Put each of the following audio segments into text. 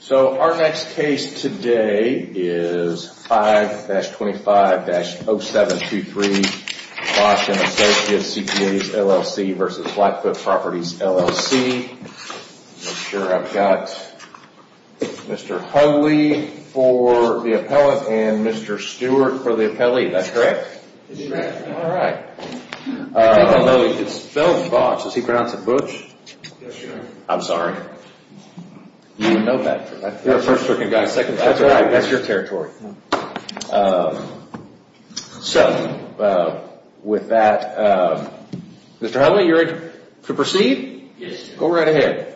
So our next case today is 5-25-0723, Bosch and Associates, CPA's, LLC v. Blackfoot Properties, I'm sure I've got Mr. Holey for the appellant and Mr. Stewart for the appellee, that's correct? That's correct. All right. I don't know if you could spell Bosch, does he pronounce it Butch? Yes, sir. I'm sorry. You know that, that's your territory. So, with that, Mr. Holey, you're ready to proceed? Yes, sir. Go right ahead.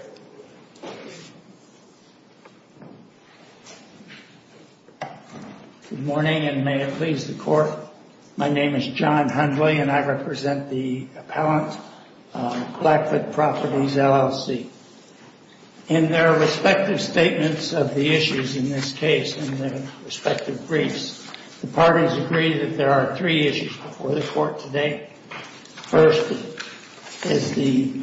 Good morning and may it please the court, my name is John Hundley and I represent the appellant, Blackfoot Properties, LLC. In their respective statements of the issues in this case, in their respective briefs, the parties agree that there are three issues before the court today. First, is the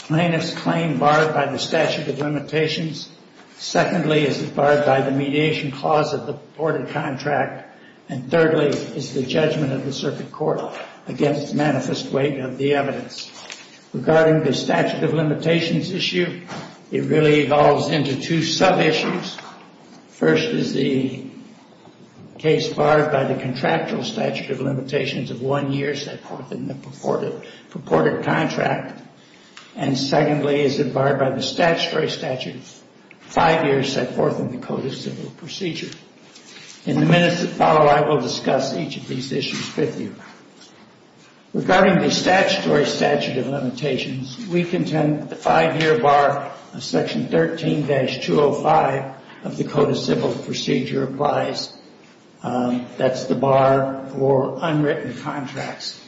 plainest claim barred by the statute of limitations. Secondly, is it barred by the mediation clause of the purported contract. And thirdly, is the judgment of the circuit court against manifest weight of the evidence. Regarding the statute of limitations issue, it really evolves into two sub-issues. First, is the case barred by the contractual statute of limitations of one year set forth in the purported contract. And secondly, is it barred by the statutory statute of five years set forth in the Code of Civil Procedure. In the minutes that follow, I will discuss each of these issues with you. Regarding the statutory statute of limitations, we contend that the five-year bar of section 13-205 of the Code of Civil Procedure applies. That's the bar for unwritten contracts.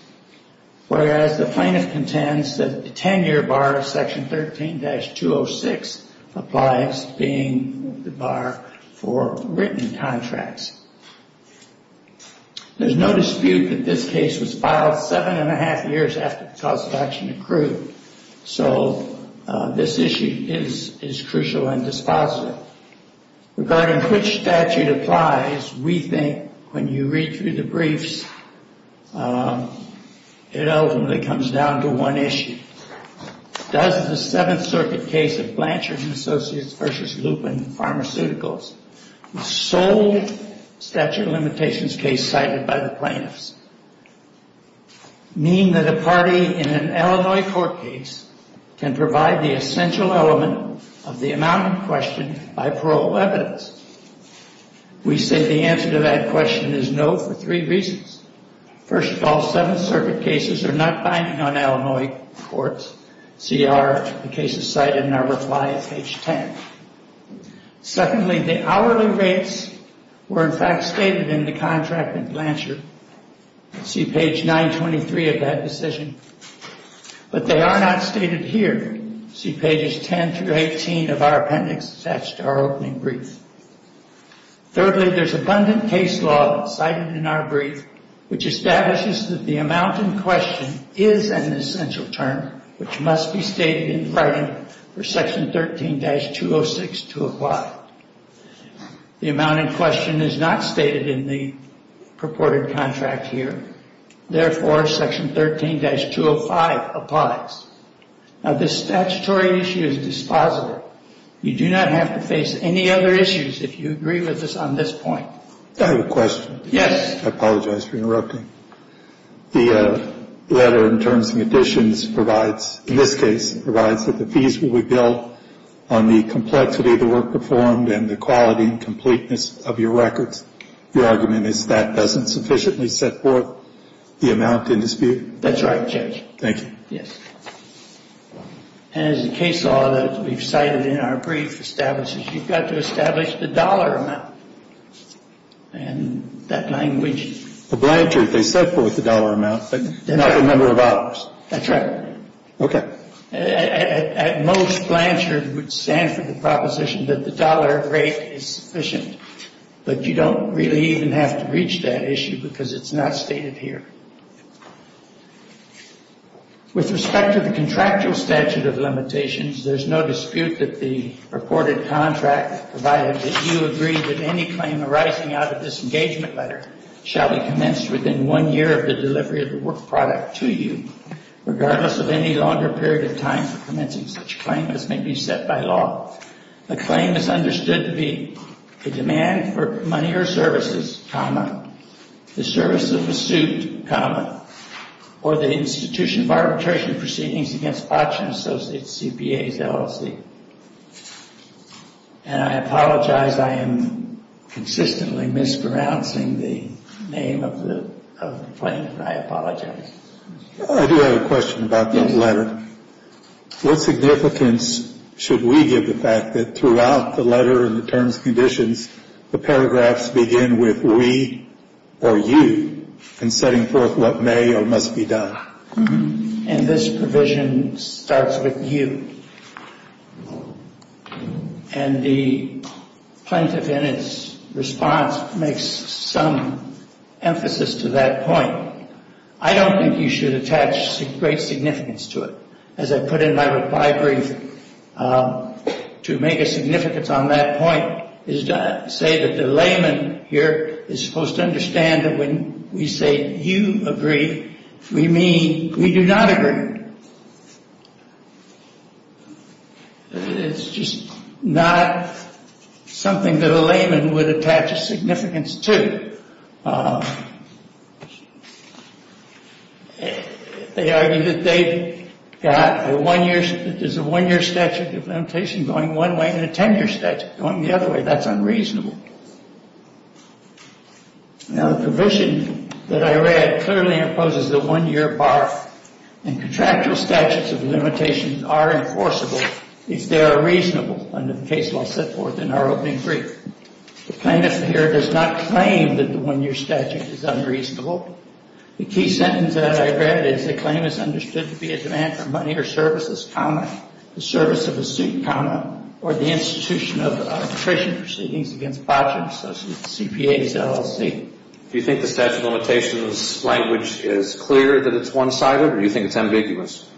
Whereas the plaintiff contends that the ten-year bar of section 13-206 applies, being the bar for written contracts. There's no dispute that this case was filed seven and a half years after the cause of action accrued. So, this issue is crucial and dispositive. Regarding which statute applies, we think, when you read through the briefs, it ultimately comes down to one issue. Does the Seventh Circuit case of Blanchard & Associates v. Lupin Pharmaceuticals, the sole statute of limitations case cited by the plaintiffs, mean that a party in an Illinois court case can provide the essential element of the amount in question by parole evidence? We say the answer to that question is no for three reasons. First of all, Seventh Circuit cases are not binding on Illinois courts. See our cases cited in our reply at page 10. Secondly, the hourly rates were in fact stated in the contract in Blanchard. See page 923 of that decision. But they are not stated here. See pages 10-18 of our appendix attached to our opening brief. Thirdly, there's abundant case law cited in our brief which establishes that the amount in question is an essential term which must be stated in writing for Section 13-206 to apply. The amount in question is not stated in the purported contract here. Therefore, Section 13-205 applies. Now, this statutory issue is dispositive. You do not have to face any other issues if you agree with us on this point. I have a question. Yes. I apologize for interrupting. The letter in terms of additions provides, in this case, provides that the fees will be billed on the complexity of the work performed and the quality and completeness of your records. Your argument is that doesn't sufficiently set forth the amount in dispute? That's right, Judge. Thank you. Yes. And as the case law that we've cited in our brief establishes, you've got to establish the dollar amount. And that language. The Blanchard, they set forth the dollar amount, but not the number of hours. That's right. Okay. At most, Blanchard would stand for the proposition that the dollar rate is sufficient. But you don't really even have to reach that issue because it's not stated here. With respect to the contractual statute of limitations, there's no dispute that the reported contract provided that you agree that any claim arising out of this engagement letter shall be commenced within one year of the delivery of the work product to you, regardless of any longer period of time for commencing such claim as may be set by law. The claim is understood to be the demand for money or services, comma, the service of a suit, comma, or the institution of arbitration proceedings against auction associates, CPAs, LLC. And I apologize. I am consistently mispronouncing the name of the claim, and I apologize. I do have a question about that letter. What significance should we give the fact that throughout the letter and the terms and conditions, the paragraphs begin with we or you in setting forth what may or must be done? And this provision starts with you. And the plaintiff in its response makes some emphasis to that point. I don't think you should attach great significance to it. As I put in my brief, to make a significance on that point is to say that the layman here is supposed to understand that when we say you agree, we mean we do not agree. It's just not something that a layman would attach a significance to. They argue that they've got a one-year statute of limitation going one way and a 10-year statute going the other way. That's unreasonable. Now, the provision that I read clearly imposes the one-year bar, and contractual statutes of limitation are enforceable if they are reasonable under the case law set forth in our opening brief. The plaintiff here does not claim that the one-year statute is unreasonable. The key sentence that I read is the claim is understood to be a demand for money or services, the service of a student, or the institution of attrition proceedings against projects associated with CPAs, LLC. Do you think the statute of limitations language is clear that it's one-sided, or do you think it's ambiguous?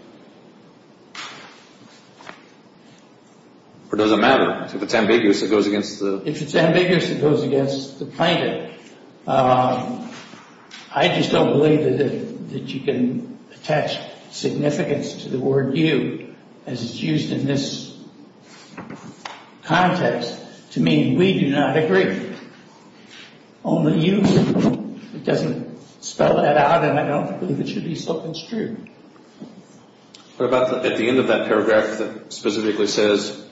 Or does it matter? If it's ambiguous, it goes against the plaintiff. If it's ambiguous, it goes against the plaintiff. I just don't believe that you can attach significance to the word you as it's used in this context to mean we do not agree. Only you. It doesn't spell that out, and I don't believe it should be so construed. What about at the end of that paragraph that specifically says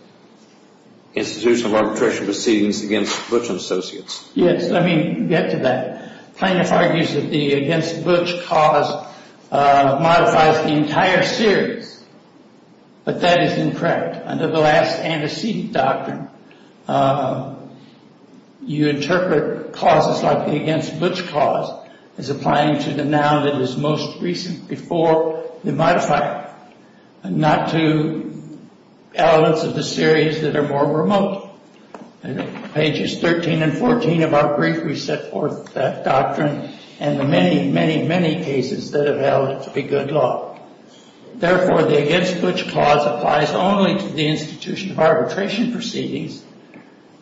institution of arbitration proceedings against Butch & Associates? Yes, let me get to that. Plaintiff argues that the against Butch cause modifies the entire series, but that is incorrect. Under the last antecedent doctrine, you interpret causes like the against Butch cause as applying to the noun that is most recent before the modifier, not to elements of the series that are more remote. In pages 13 and 14 of our brief, we set forth that doctrine and the many, many, many cases that have held it to be good law. Therefore, the against Butch cause applies only to the institution of arbitration proceedings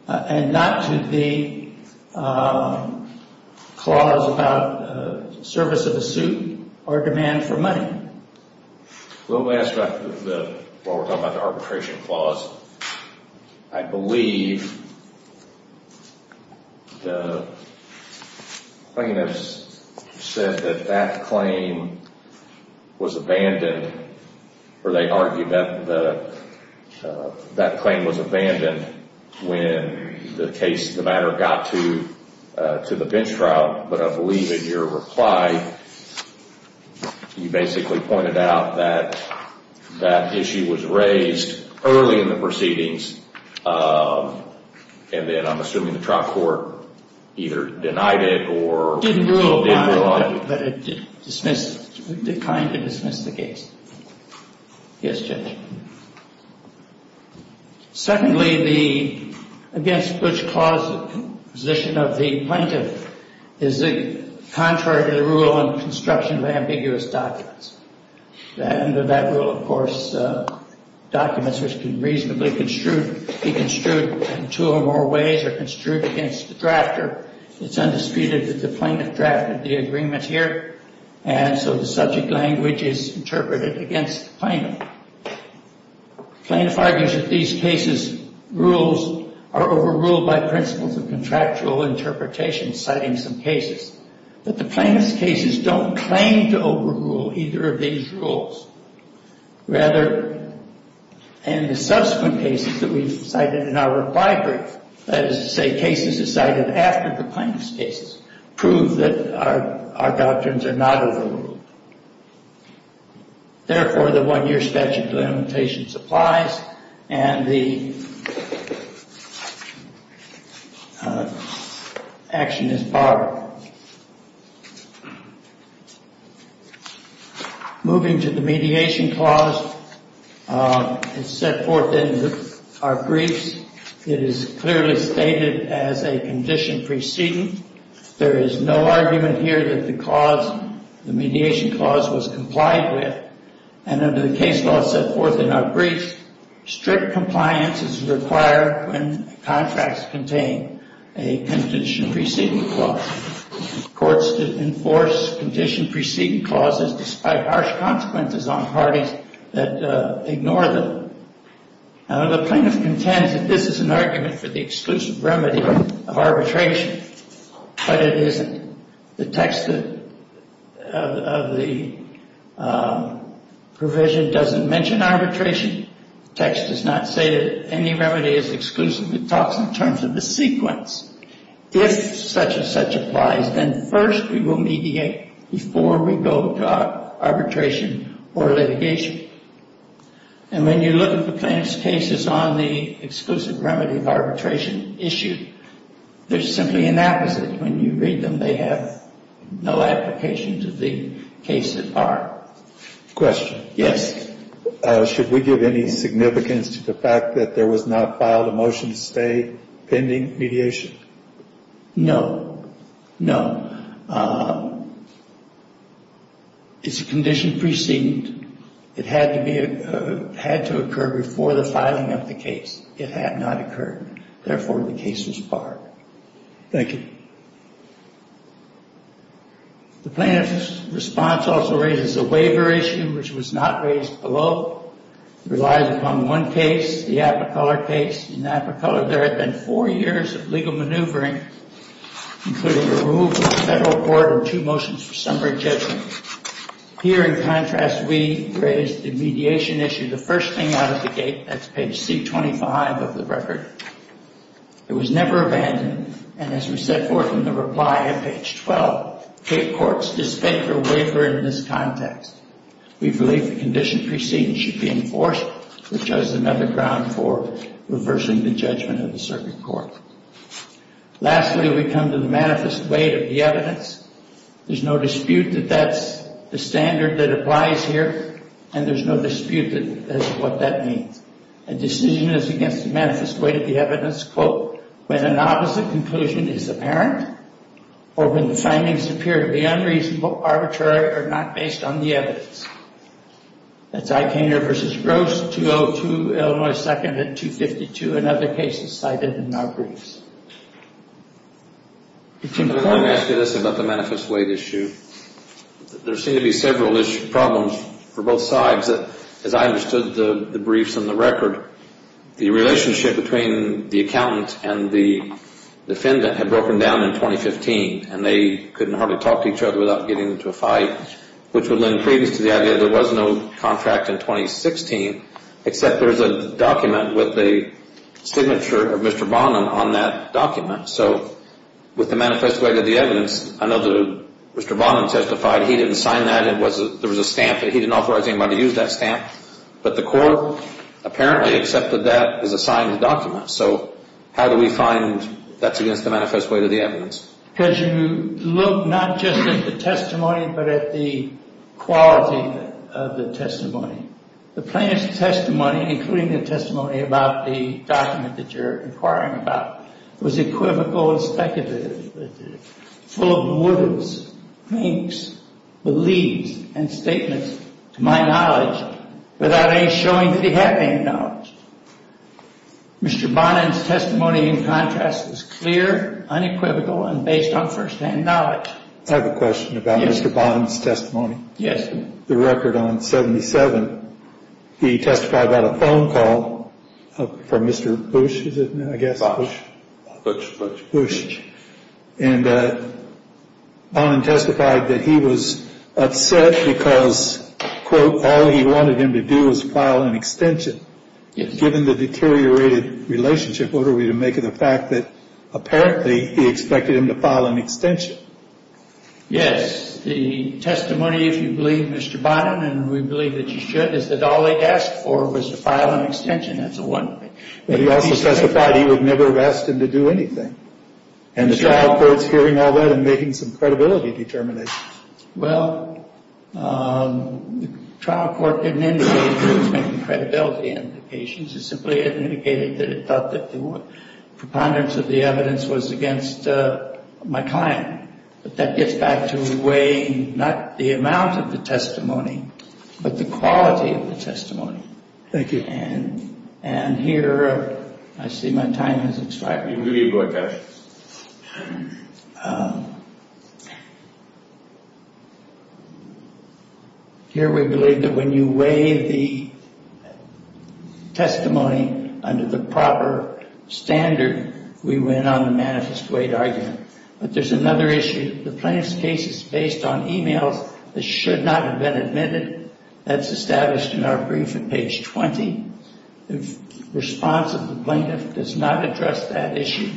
and not to the clause about service of a suit or demand for money. They argue that that claim was abandoned when the matter got to the bench trial, but I believe in your reply, you basically pointed out that that issue was raised early in the proceedings and then I'm assuming the trial court either denied it or did rule on it. But it dismissed, declined to dismiss the case. Yes, Judge. Secondly, the against Butch cause position of the plaintiff is contrary to the rule on construction of ambiguous documents. Under that rule, of course, documents which can reasonably be construed in two or more ways are construed against the drafter. It's undisputed that the plaintiff drafted the agreement here. And so the subject language is interpreted against the plaintiff. Plaintiff argues that these cases rules are overruled by principles of contractual interpretation, citing some cases. But the plaintiff's cases don't claim to overrule either of these rules. Rather, in the subsequent cases that we've cited in our reply brief, that is to say cases decided after the plaintiff's cases, prove that our doctrines are not overruled. Therefore, the one-year statute of limitations applies and the action is borrowed. Moving to the mediation clause, it's set forth in our briefs. It is clearly stated as a condition preceding. There is no argument here that the cause, the mediation clause, was complied with. And under the case law set forth in our brief, strict compliance is required when contracts contain a condition preceding clause. Courts enforce condition preceding clauses despite harsh consequences on parties that ignore them. Now, the plaintiff contends that this is an argument for the exclusive remedy of arbitration, but it isn't. The text of the provision doesn't mention arbitration. The text does not say that any remedy is exclusive. It talks in terms of the sequence. If such and such applies, then first we will mediate before we go to arbitration or litigation. And when you look at the plaintiff's cases on the exclusive remedy of arbitration issue, there's simply an apposite. When you read them, they have no application to the case that are. Question. Yes. Should we give any significance to the fact that there was not filed a motion to stay pending mediation? No. No. It's a condition preceding. It had to occur before the filing of the case. It had not occurred. Therefore, the case was barred. Thank you. The plaintiff's response also raises a waiver issue, which was not raised below. It relies upon one case, the Apricolor case. In Apricolor, there had been four years of legal maneuvering, including the removal of the federal court and two motions for summary judgment. Here, in contrast, we raised the mediation issue, the first thing out of the gate. That's page C25 of the record. It was never abandoned. And as we set forth in the reply at page 12, state courts dispense a waiver in this context. We believe the condition preceding should be enforced, which has another ground for reversing the judgment of the circuit court. Lastly, we come to the manifest weight of the evidence. There's no dispute that that's the standard that applies here, and there's no dispute as to what that means. A decision is against the manifest weight of the evidence, quote, when an opposite conclusion is apparent or when the findings appear to be unreasonable, arbitrary, or not based on the evidence. That's Eichinger v. Gross, 202 Illinois 2nd and 252 and other cases cited in our briefs. Let me ask you this about the manifest weight issue. There seem to be several problems for both sides. As I understood the briefs and the record, the relationship between the accountant and the defendant had broken down in 2015, and they couldn't hardly talk to each other without getting into a fight, which would lend credence to the idea there was no contract in 2016, except there's a document with a signature of Mr. Bonham on that document. So with the manifest weight of the evidence, I know that Mr. Bonham testified. He didn't sign that. There was a stamp, but he didn't authorize anybody to use that stamp. But the court apparently accepted that as a signed document. So how do we find that's against the manifest weight of the evidence? Because you look not just at the testimony but at the quality of the testimony. The plaintiff's testimony, including the testimony about the document that you're inquiring about, was equivocal and speculative, full of motives, thinks, beliefs, and statements, to my knowledge, without any showing that he had any knowledge. Mr. Bonham's testimony, in contrast, was clear, unequivocal, and based on firsthand knowledge. I have a question about Mr. Bonham's testimony. Yes. The record on 77, he testified about a phone call from Mr. Bush, is it, I guess? Bush. Bush. And Bonham testified that he was upset because, quote, all he wanted him to do was file an extension. Given the deteriorated relationship, what are we to make of the fact that apparently he expected him to file an extension? Yes. The testimony, if you believe Mr. Bonham, and we believe that you should, is that all he asked for was to file an extension. That's the one thing. But he also testified he would never have asked him to do anything. And the trial court's hearing all that and making some credibility determinations. Well, the trial court didn't indicate that it was making credibility indications. It simply indicated that it thought that the preponderance of the evidence was against my client. But that gets back to the way, not the amount of the testimony, but the quality of the testimony. Thank you. And here, I see my time has expired. We will give you a boycott. All right. Here we believe that when you weigh the testimony under the proper standard, we win on the manifest weight argument. But there's another issue. The plaintiff's case is based on e-mails that should not have been admitted. That's established in our brief at page 20. The response of the plaintiff does not address that issue.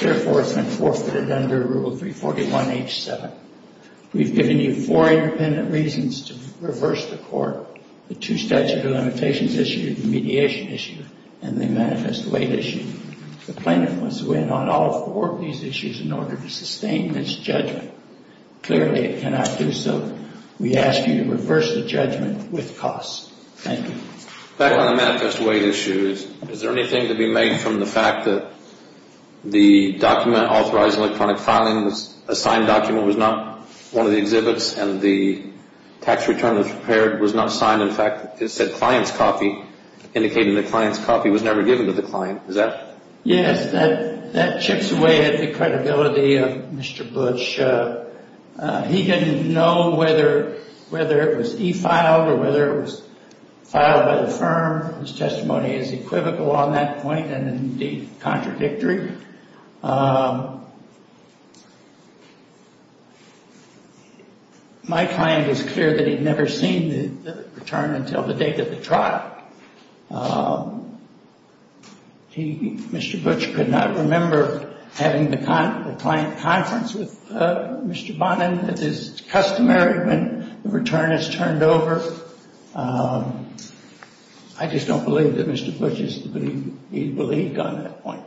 Therefore, it's been forfeited under Rule 341H7. We've given you four independent reasons to reverse the court, the two statute of limitations issue, the mediation issue, and the manifest weight issue. The plaintiff wants to win on all four of these issues in order to sustain this judgment. Clearly, it cannot do so. We ask you to reverse the judgment with costs. Thank you. Back on the manifest weight issue, is there anything to be made from the fact that the document authorizing electronic filing, a signed document, was not one of the exhibits and the tax return that was prepared was not signed? In fact, it said client's copy, indicating the client's copy was never given to the client. Is that? Yes. That chips away at the credibility of Mr. Bush. He didn't know whether it was e-filed or whether it was filed by the firm. His testimony is equivocal on that point and, indeed, contradictory. My client was clear that he'd never seen the return until the date of the trial. Mr. Bush could not remember having the client conference with Mr. Bonin. It is customary when the return is turned over. I just don't believe that Mr. Bush believed on that point.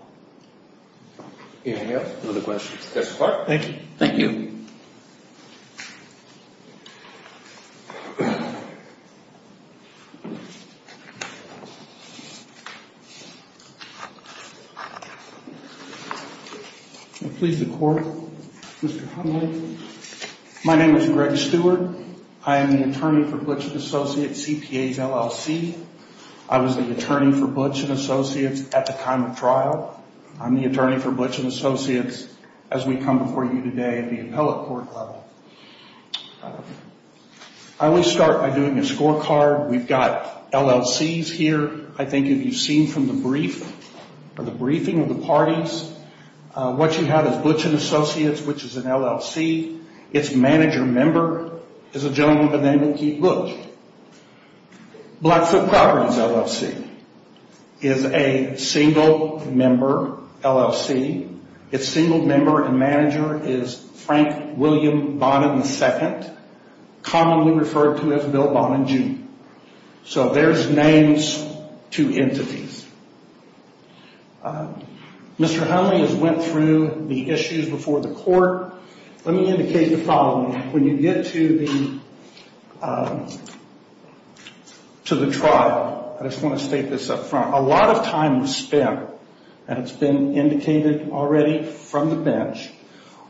Any other questions? Thank you. Thank you. Please, the court. Mr. Hundley. My name is Greg Stewart. I am the attorney for Butch & Associates, CPA's LLC. I was the attorney for Butch & Associates at the time of trial. I'm the attorney for Butch & Associates as we come before you today at the appellate court level. I will start by doing a scorecard. We've got LLCs here, I think, if you've seen from the brief or the briefing of the parties. What you have is Butch & Associates, which is an LLC. Its manager member is a gentleman by the name of Keith Butch. Blackfoot Properties LLC is a single-member LLC. Its single member and manager is Frank William Bonin II, commonly referred to as Bill Bonin Jr. So there's names to entities. Mr. Hundley has went through the issues before the court. Let me indicate the following. When you get to the trial, I just want to state this up front. A lot of time was spent, and it's been indicated already from the bench,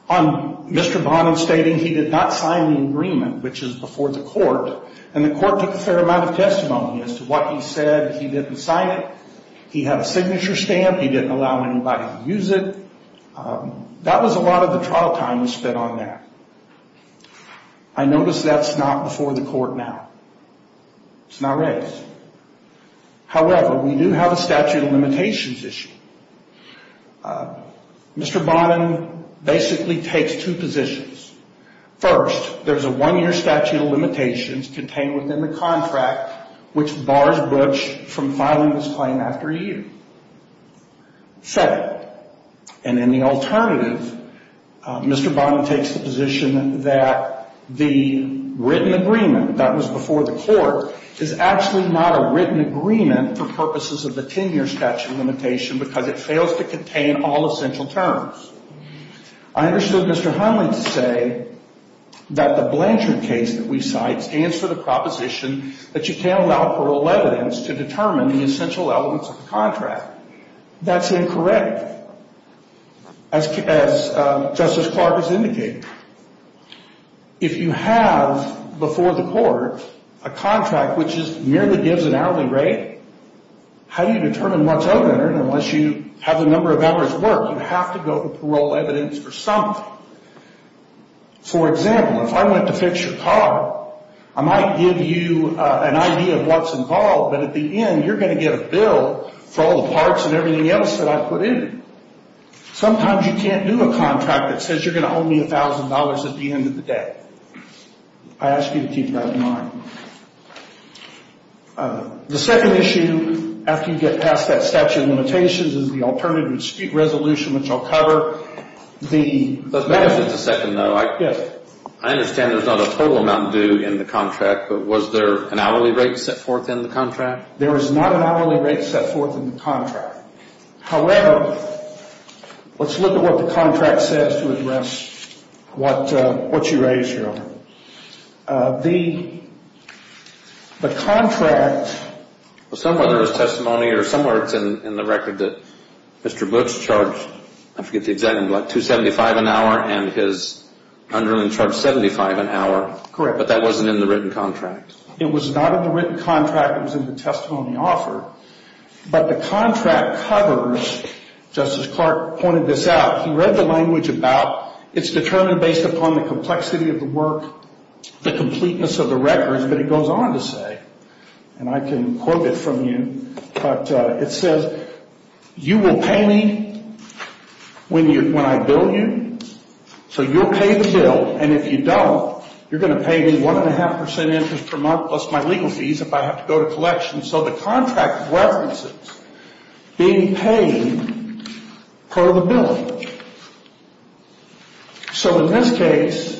on Mr. Bonin stating he did not sign the agreement, which is before the court, and the court took a fair amount of testimony as to what he said. He didn't sign it. He had a signature stamp. He didn't allow anybody to use it. That was a lot of the trial time was spent on that. I notice that's not before the court now. It's not raised. However, we do have a statute of limitations issue. Mr. Bonin basically takes two positions. First, there's a one-year statute of limitations contained within the contract, which bars Butch from filing this claim after a year. Second, and in the alternative, Mr. Bonin takes the position that the written agreement that was before the court is actually not a written agreement for purposes of the 10-year statute of limitation because it fails to contain all essential terms. I understood Mr. Hunley to say that the Blanchard case that we cite stands for the proposition that you can't allow parole evidence to determine the essential elements of the contract. That's incorrect, as Justice Clark has indicated. If you have, before the court, a contract which merely gives an hourly rate, how do you determine what's open or unless you have the number of hours worth, you have to go to parole evidence for something. For example, if I went to fix your car, I might give you an idea of what's involved, but at the end, you're going to get a bill for all the parts and everything else that I put in. Sometimes you can't do a contract that says you're going to owe me $1,000 at the end of the day. I ask you to keep that in mind. The second issue, after you get past that statute of limitations, is the alternative resolution, which I'll cover. Let's back up just a second, though. Yes. I understand there's not a total amount due in the contract, but was there an hourly rate set forth in the contract? There is not an hourly rate set forth in the contract. However, let's look at what the contract says to address what you raised, Your Honor. The contract... Somewhere there's testimony, or somewhere it's in the record that Mr. Boots charged, I forget the exact number, like $275 an hour and his underling charged $75 an hour. Correct. But that wasn't in the written contract. It was not in the written contract. It was in the testimony offered. But the contract covers... Justice Clark pointed this out. He read the language about it's determined based upon the complexity of the work, the completeness of the records, but he goes on to say, and I can quote it from you, but it says, You will pay me when I bill you, so you'll pay the bill, and if you don't, you're going to pay me 1.5% interest per month plus my legal fees if I have to go to collection. So the contract references being paid per the bill. So in this case,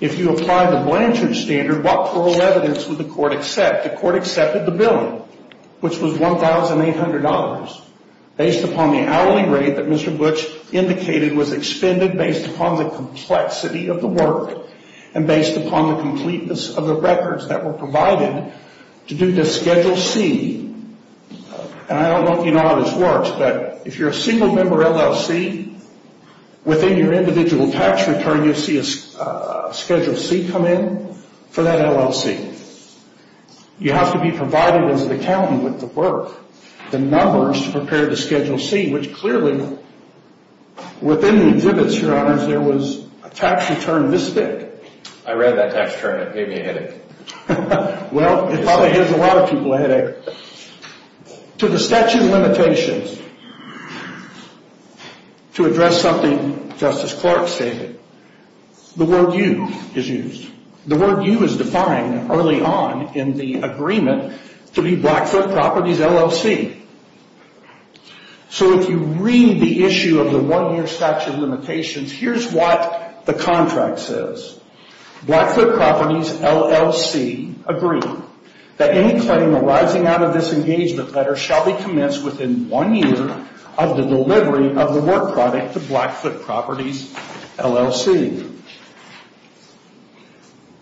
if you apply the Blanchard standard, what parole evidence would the court accept? The court accepted the bill, which was $1,800 based upon the hourly rate that Mr. Boots indicated was expended based upon the complexity of the work and based upon the completeness of the records that were provided to do the Schedule C. And I don't know if you know how this works, but if you're a single member LLC, within your individual tax return, you'll see a Schedule C come in for that LLC. You have to be provided as an accountant with the work, the numbers to prepare the Schedule C, which clearly, within the exhibits, Your Honors, there was a tax return this big. I read that tax return. It gave me a headache. Well, it probably gives a lot of people a headache. To the statute of limitations, to address something Justice Clark stated, the word you is used. The word you is defined early on in the agreement to be Blackfoot Properties, LLC. So if you read the issue of the one-year statute of limitations, here's what the contract says. Blackfoot Properties, LLC agreed that any claim arising out of this engagement letter shall be commenced within one year of the delivery of the work product to Blackfoot Properties, LLC.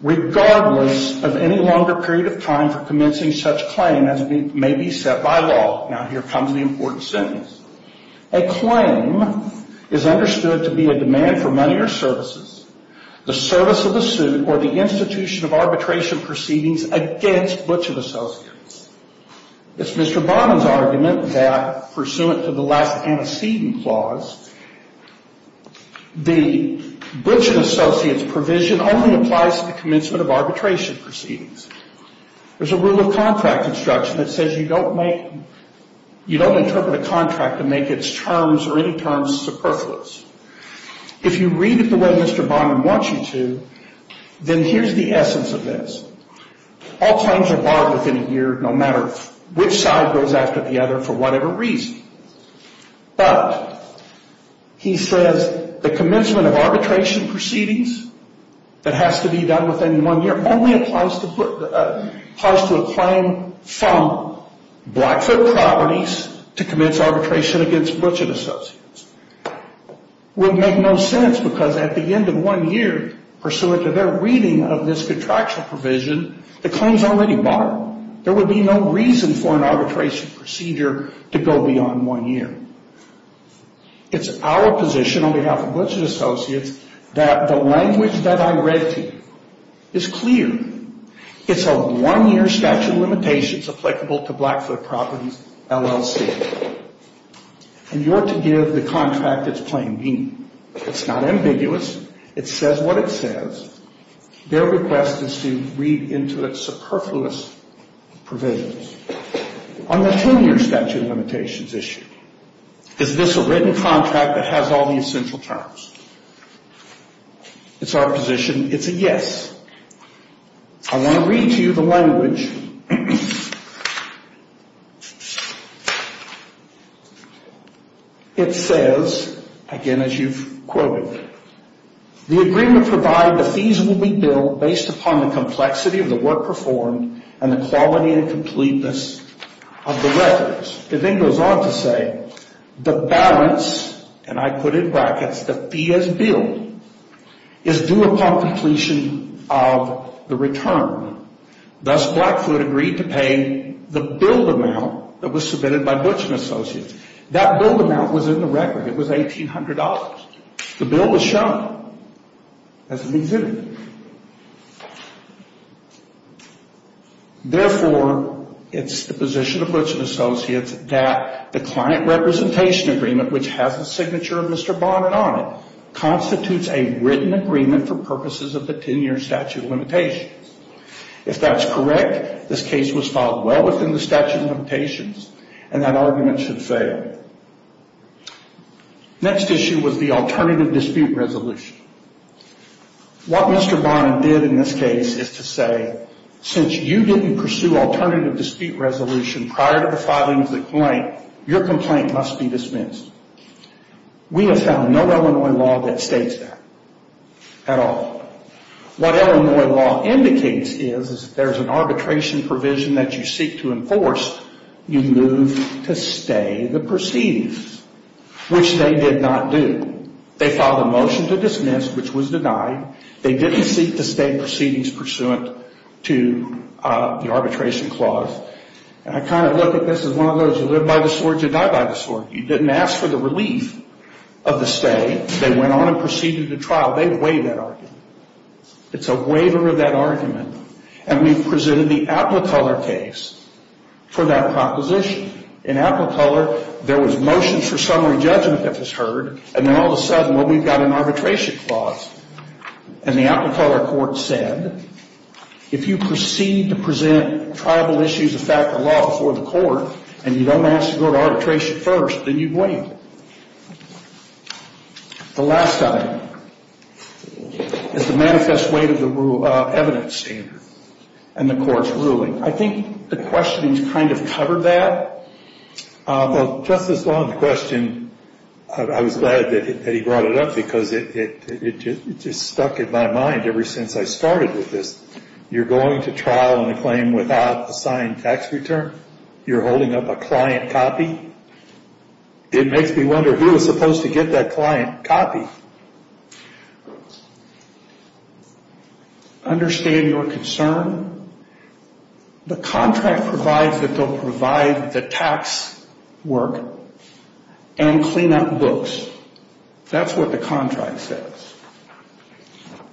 Regardless of any longer period of time for commencing such claim as may be set by law, now here comes the important sentence. A claim is understood to be a demand for money or services, the service of the suit, or the institution of arbitration proceedings against Butchett Associates. It's Mr. Bonham's argument that, pursuant to the last antecedent clause, the Butchett Associates provision only applies to the commencement of arbitration proceedings. There's a rule of contract instruction that says you don't interpret a contract to make its terms or any terms superfluous. If you read it the way Mr. Bonham wants you to, then here's the essence of this. All claims are borrowed within a year, no matter which side goes after the other for whatever reason. But he says the commencement of arbitration proceedings that has to be done within one year only applies to a claim from Blackfoot Properties to commence arbitration against Butchett Associates. It would make no sense because at the end of one year, pursuant to their reading of this contractual provision, the claim is already borrowed. There would be no reason for an arbitration procedure to go beyond one year. It's our position on behalf of Butchett Associates that the language that I read to you is clear. It's a one-year statute of limitations applicable to Blackfoot Properties LLC. And you're to give the contract its plain meaning. It's not ambiguous. It says what it says. Their request is to read into its superfluous provisions. On the 10-year statute of limitations issue, is this a written contract that has all the essential terms? It's our position it's a yes. I want to read to you the language. It says, again, as you've quoted, the agreement provided the fees will be billed based upon the complexity of the work performed and the quality and completeness of the records. It then goes on to say, the balance, and I put in brackets the fee as billed, is due upon completion of the return. Thus, Blackfoot agreed to pay the billed amount that was submitted by Butchett Associates. That billed amount was in the record. It was $1,800. The bill was shown as it was in it. Therefore, it's the position of Butchett Associates that the client representation agreement, which has the signature of Mr. Bonin on it, constitutes a written agreement for purposes of the 10-year statute of limitations. If that's correct, this case was filed well within the statute of limitations, and that argument should fail. Next issue was the alternative dispute resolution. What Mr. Bonin did in this case is to say, since you didn't pursue alternative dispute resolution prior to the filing of the claim, your complaint must be dismissed. We have found no Illinois law that states that at all. What Illinois law indicates is if there's an arbitration provision that you seek to enforce, you move to stay the proceedings, which they did not do. They filed a motion to dismiss, which was denied. They didn't seek to stay proceedings pursuant to the arbitration clause. And I kind of look at this as one of those who live by the sword, you die by the sword. You didn't ask for the relief of the stay. They went on and proceeded to trial. They waived that argument. It's a waiver of that argument. And we've presented the Appleteller case for that proposition. In Appleteller, there was motion for summary judgment that was heard, and then all of a sudden, well, we've got an arbitration clause. And the Appleteller court said, if you proceed to present triable issues of fact and law before the court, and you don't ask to go to arbitration first, then you waive it. The last item is the manifest weight of the evidence standard and the court's ruling. I think the questions kind of covered that. Well, Justice Long's question, I was glad that he brought it up because it just stuck in my mind ever since I started with this. You're going to trial on a claim without a signed tax return. You're holding up a client copy. It makes me wonder who was supposed to get that client copy. Understand your concern. The contract provides that they'll provide the tax work and clean up books. That's what the contract says.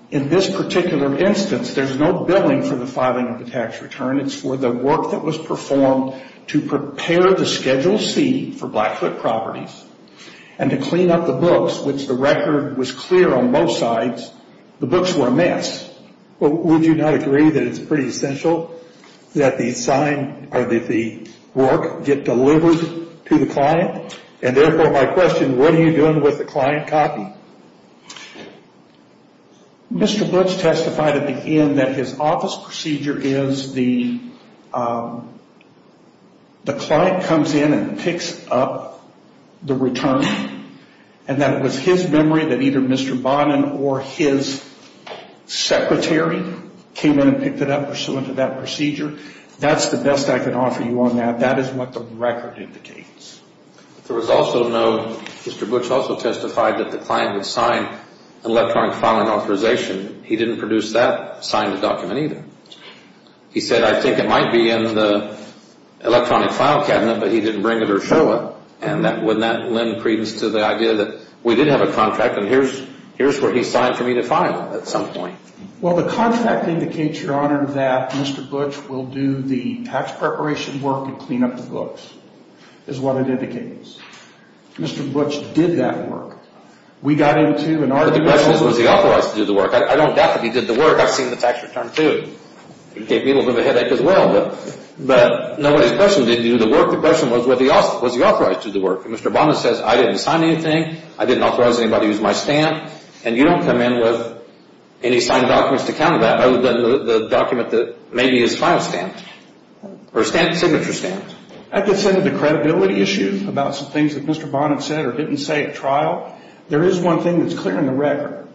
In this particular instance, there's no billing for the filing of the tax return. that was performed to prepare the Schedule C for Blackfoot properties and to clean up the books, which the record was clear on both sides. The books were a mess. Would you not agree that it's pretty essential that the work get delivered to the client? And therefore, my question, what are you doing with the client copy? Mr. Butch testified at the end that his office procedure is the client comes in and picks up the return, and that it was his memory that either Mr. Bonin or his secretary came in and picked it up pursuant to that procedure. That's the best I can offer you on that. That is what the record indicates. There was also no Mr. Butch also testified that the client would sign an electronic filing authorization. He didn't produce that signed document either. He said, I think it might be in the electronic file cabinet, but he didn't bring it or show it. And wouldn't that lend credence to the idea that we did have a contract, and here's what he signed for me to file at some point? Well, the contract indicates, Your Honor, that Mr. Butch will do the tax preparation work and clean up the books. That's what it indicates. Mr. Butch did that work. We got into an argument. But the question is, was he authorized to do the work? I don't doubt that he did the work. I've seen the tax return, too. It gave me a little bit of a headache as well. But nobody's question was, did he do the work? The question was, was he authorized to do the work? Mr. Bonin says, I didn't sign anything. I didn't authorize anybody to use my stamp. And you don't come in with any signed documents to counter that other than the document that may be his file stamp or signature stamp. That gets into the credibility issue about some things that Mr. Bonin said or didn't say at trial. There is one thing that's clear in the record.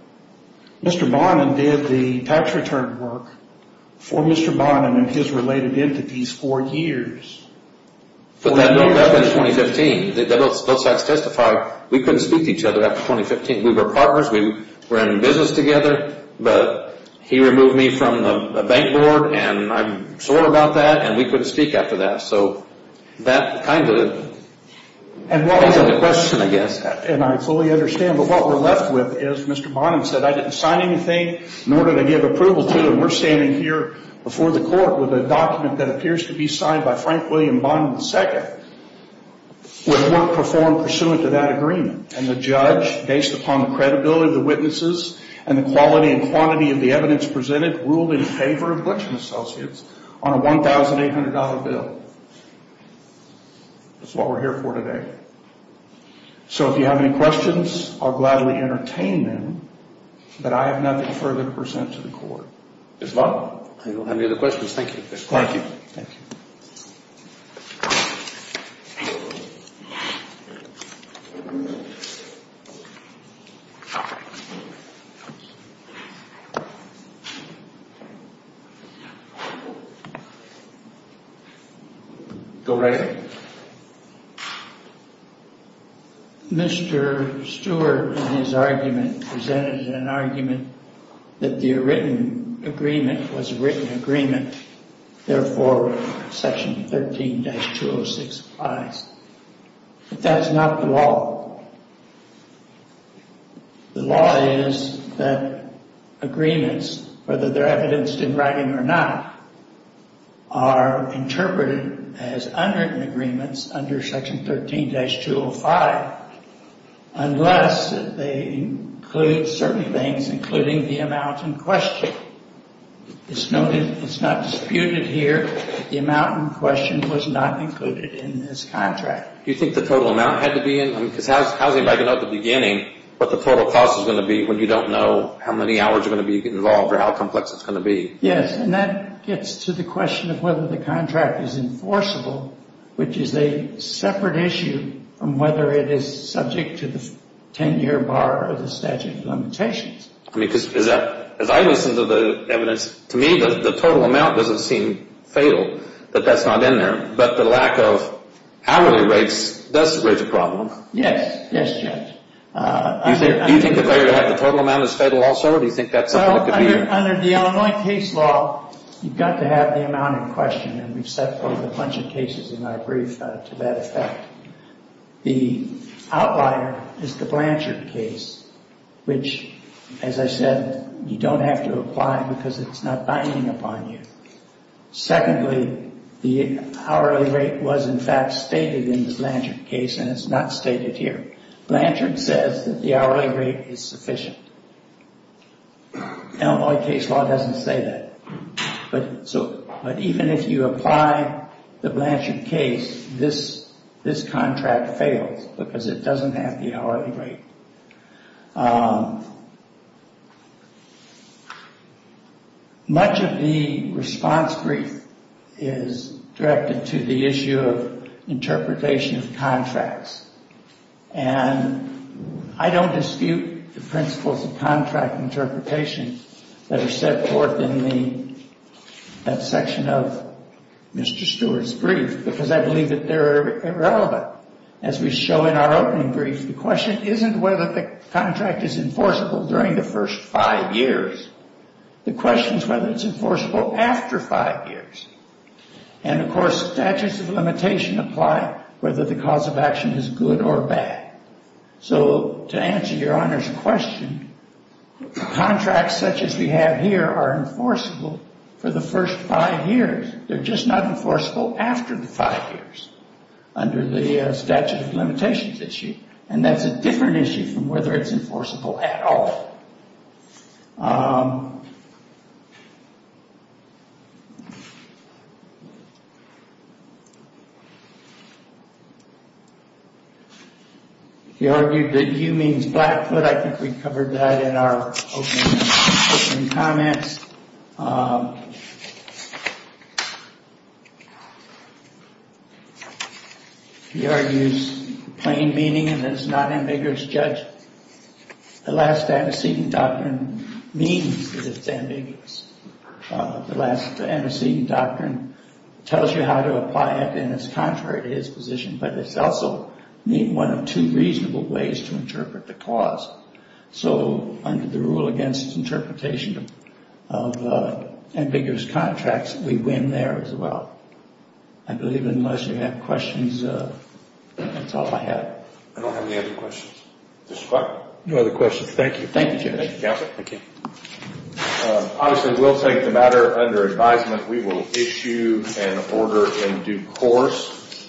Mr. Bonin did the tax return work for Mr. Bonin and his related entities for years. But that was in 2015. Both sides testified we couldn't speak to each other after 2015. We were partners. We were in business together. But he removed me from the bank board, and I'm sore about that, and we couldn't speak after that. So that kind of brings up the question, I guess. And I fully understand. But what we're left with is Mr. Bonin said, I didn't sign anything, nor did I give approval to. And we're standing here before the court with a document that appears to be signed by Frank William Bonin II with work performed pursuant to that agreement. And the judge, based upon the credibility of the witnesses and the quality and quantity of the evidence presented, ruled in favor of Glitch and Associates on a $1,800 bill. That's what we're here for today. So if you have any questions, I'll gladly entertain them. But I have nothing further to present to the court. Ms. Bonin? I don't have any other questions. Thank you. Thank you. Thank you. Go right ahead. Mr. Stewart, in his argument, presented an argument that the written agreement was a written agreement. Therefore, Section 13-206 applies. But that's not the law. The law is that agreements, whether they're evidenced in writing or not, are interpreted as unwritten agreements under Section 13-205 unless they include certain things, including the amount in question. It's not disputed here. The amount in question was not included in this contract. Do you think the total amount had to be in? Because how does anybody know at the beginning what the total cost is going to be when you don't know how many hours are going to be involved or how complex it's going to be? Yes, and that gets to the question of whether the contract is enforceable, which is a separate issue from whether it is subject to the 10-year bar or the statute of limitations. As I listen to the evidence, to me, the total amount doesn't seem fatal, that that's not in there. But the lack of hourly rates does raise a problem. Yes, yes, Judge. Do you think the total amount is fatal also, or do you think that's something that could be? Under the Illinois case law, you've got to have the amount in question, and we've set forth a bunch of cases in our brief to that effect. The outlier is the Blanchard case, which, as I said, you don't have to apply because it's not binding upon you. Secondly, the hourly rate was, in fact, stated in the Blanchard case, and it's not stated here. Blanchard says that the hourly rate is sufficient. Illinois case law doesn't say that. But even if you apply the Blanchard case, this contract fails because it doesn't have the hourly rate. Much of the response brief is directed to the issue of interpretation of contracts. And I don't dispute the principles of contract interpretation that are set forth in that section of Mr. Stewart's brief, because I believe that they're irrelevant. As we show in our opening brief, the question isn't whether the contract is enforceable during the first five years. The question is whether it's enforceable after five years. And, of course, statutes of limitation apply whether the cause of action is good or bad. So to answer Your Honor's question, contracts such as we have here are enforceable for the first five years. They're just not enforceable after the five years under the statute of limitations issue. And that's a different issue from whether it's enforceable at all. He argued that you means Blackfoot. I think we covered that in our opening comments. He argues plain meaning and is not ambiguous. Judge, the last antecedent doctrine means that it's ambiguous. The last antecedent doctrine tells you how to apply it, and it's contrary to his position. But it's also one of two reasonable ways to interpret the cause. So under the rule against interpretation of ambiguous contracts, we win there as well. I believe unless you have questions, that's all I have. I don't have any other questions. No other questions. Thank you. Thank you, Judge. Counsel? Thank you. Obviously, we'll take the matter under advisement. We will issue an order in due course.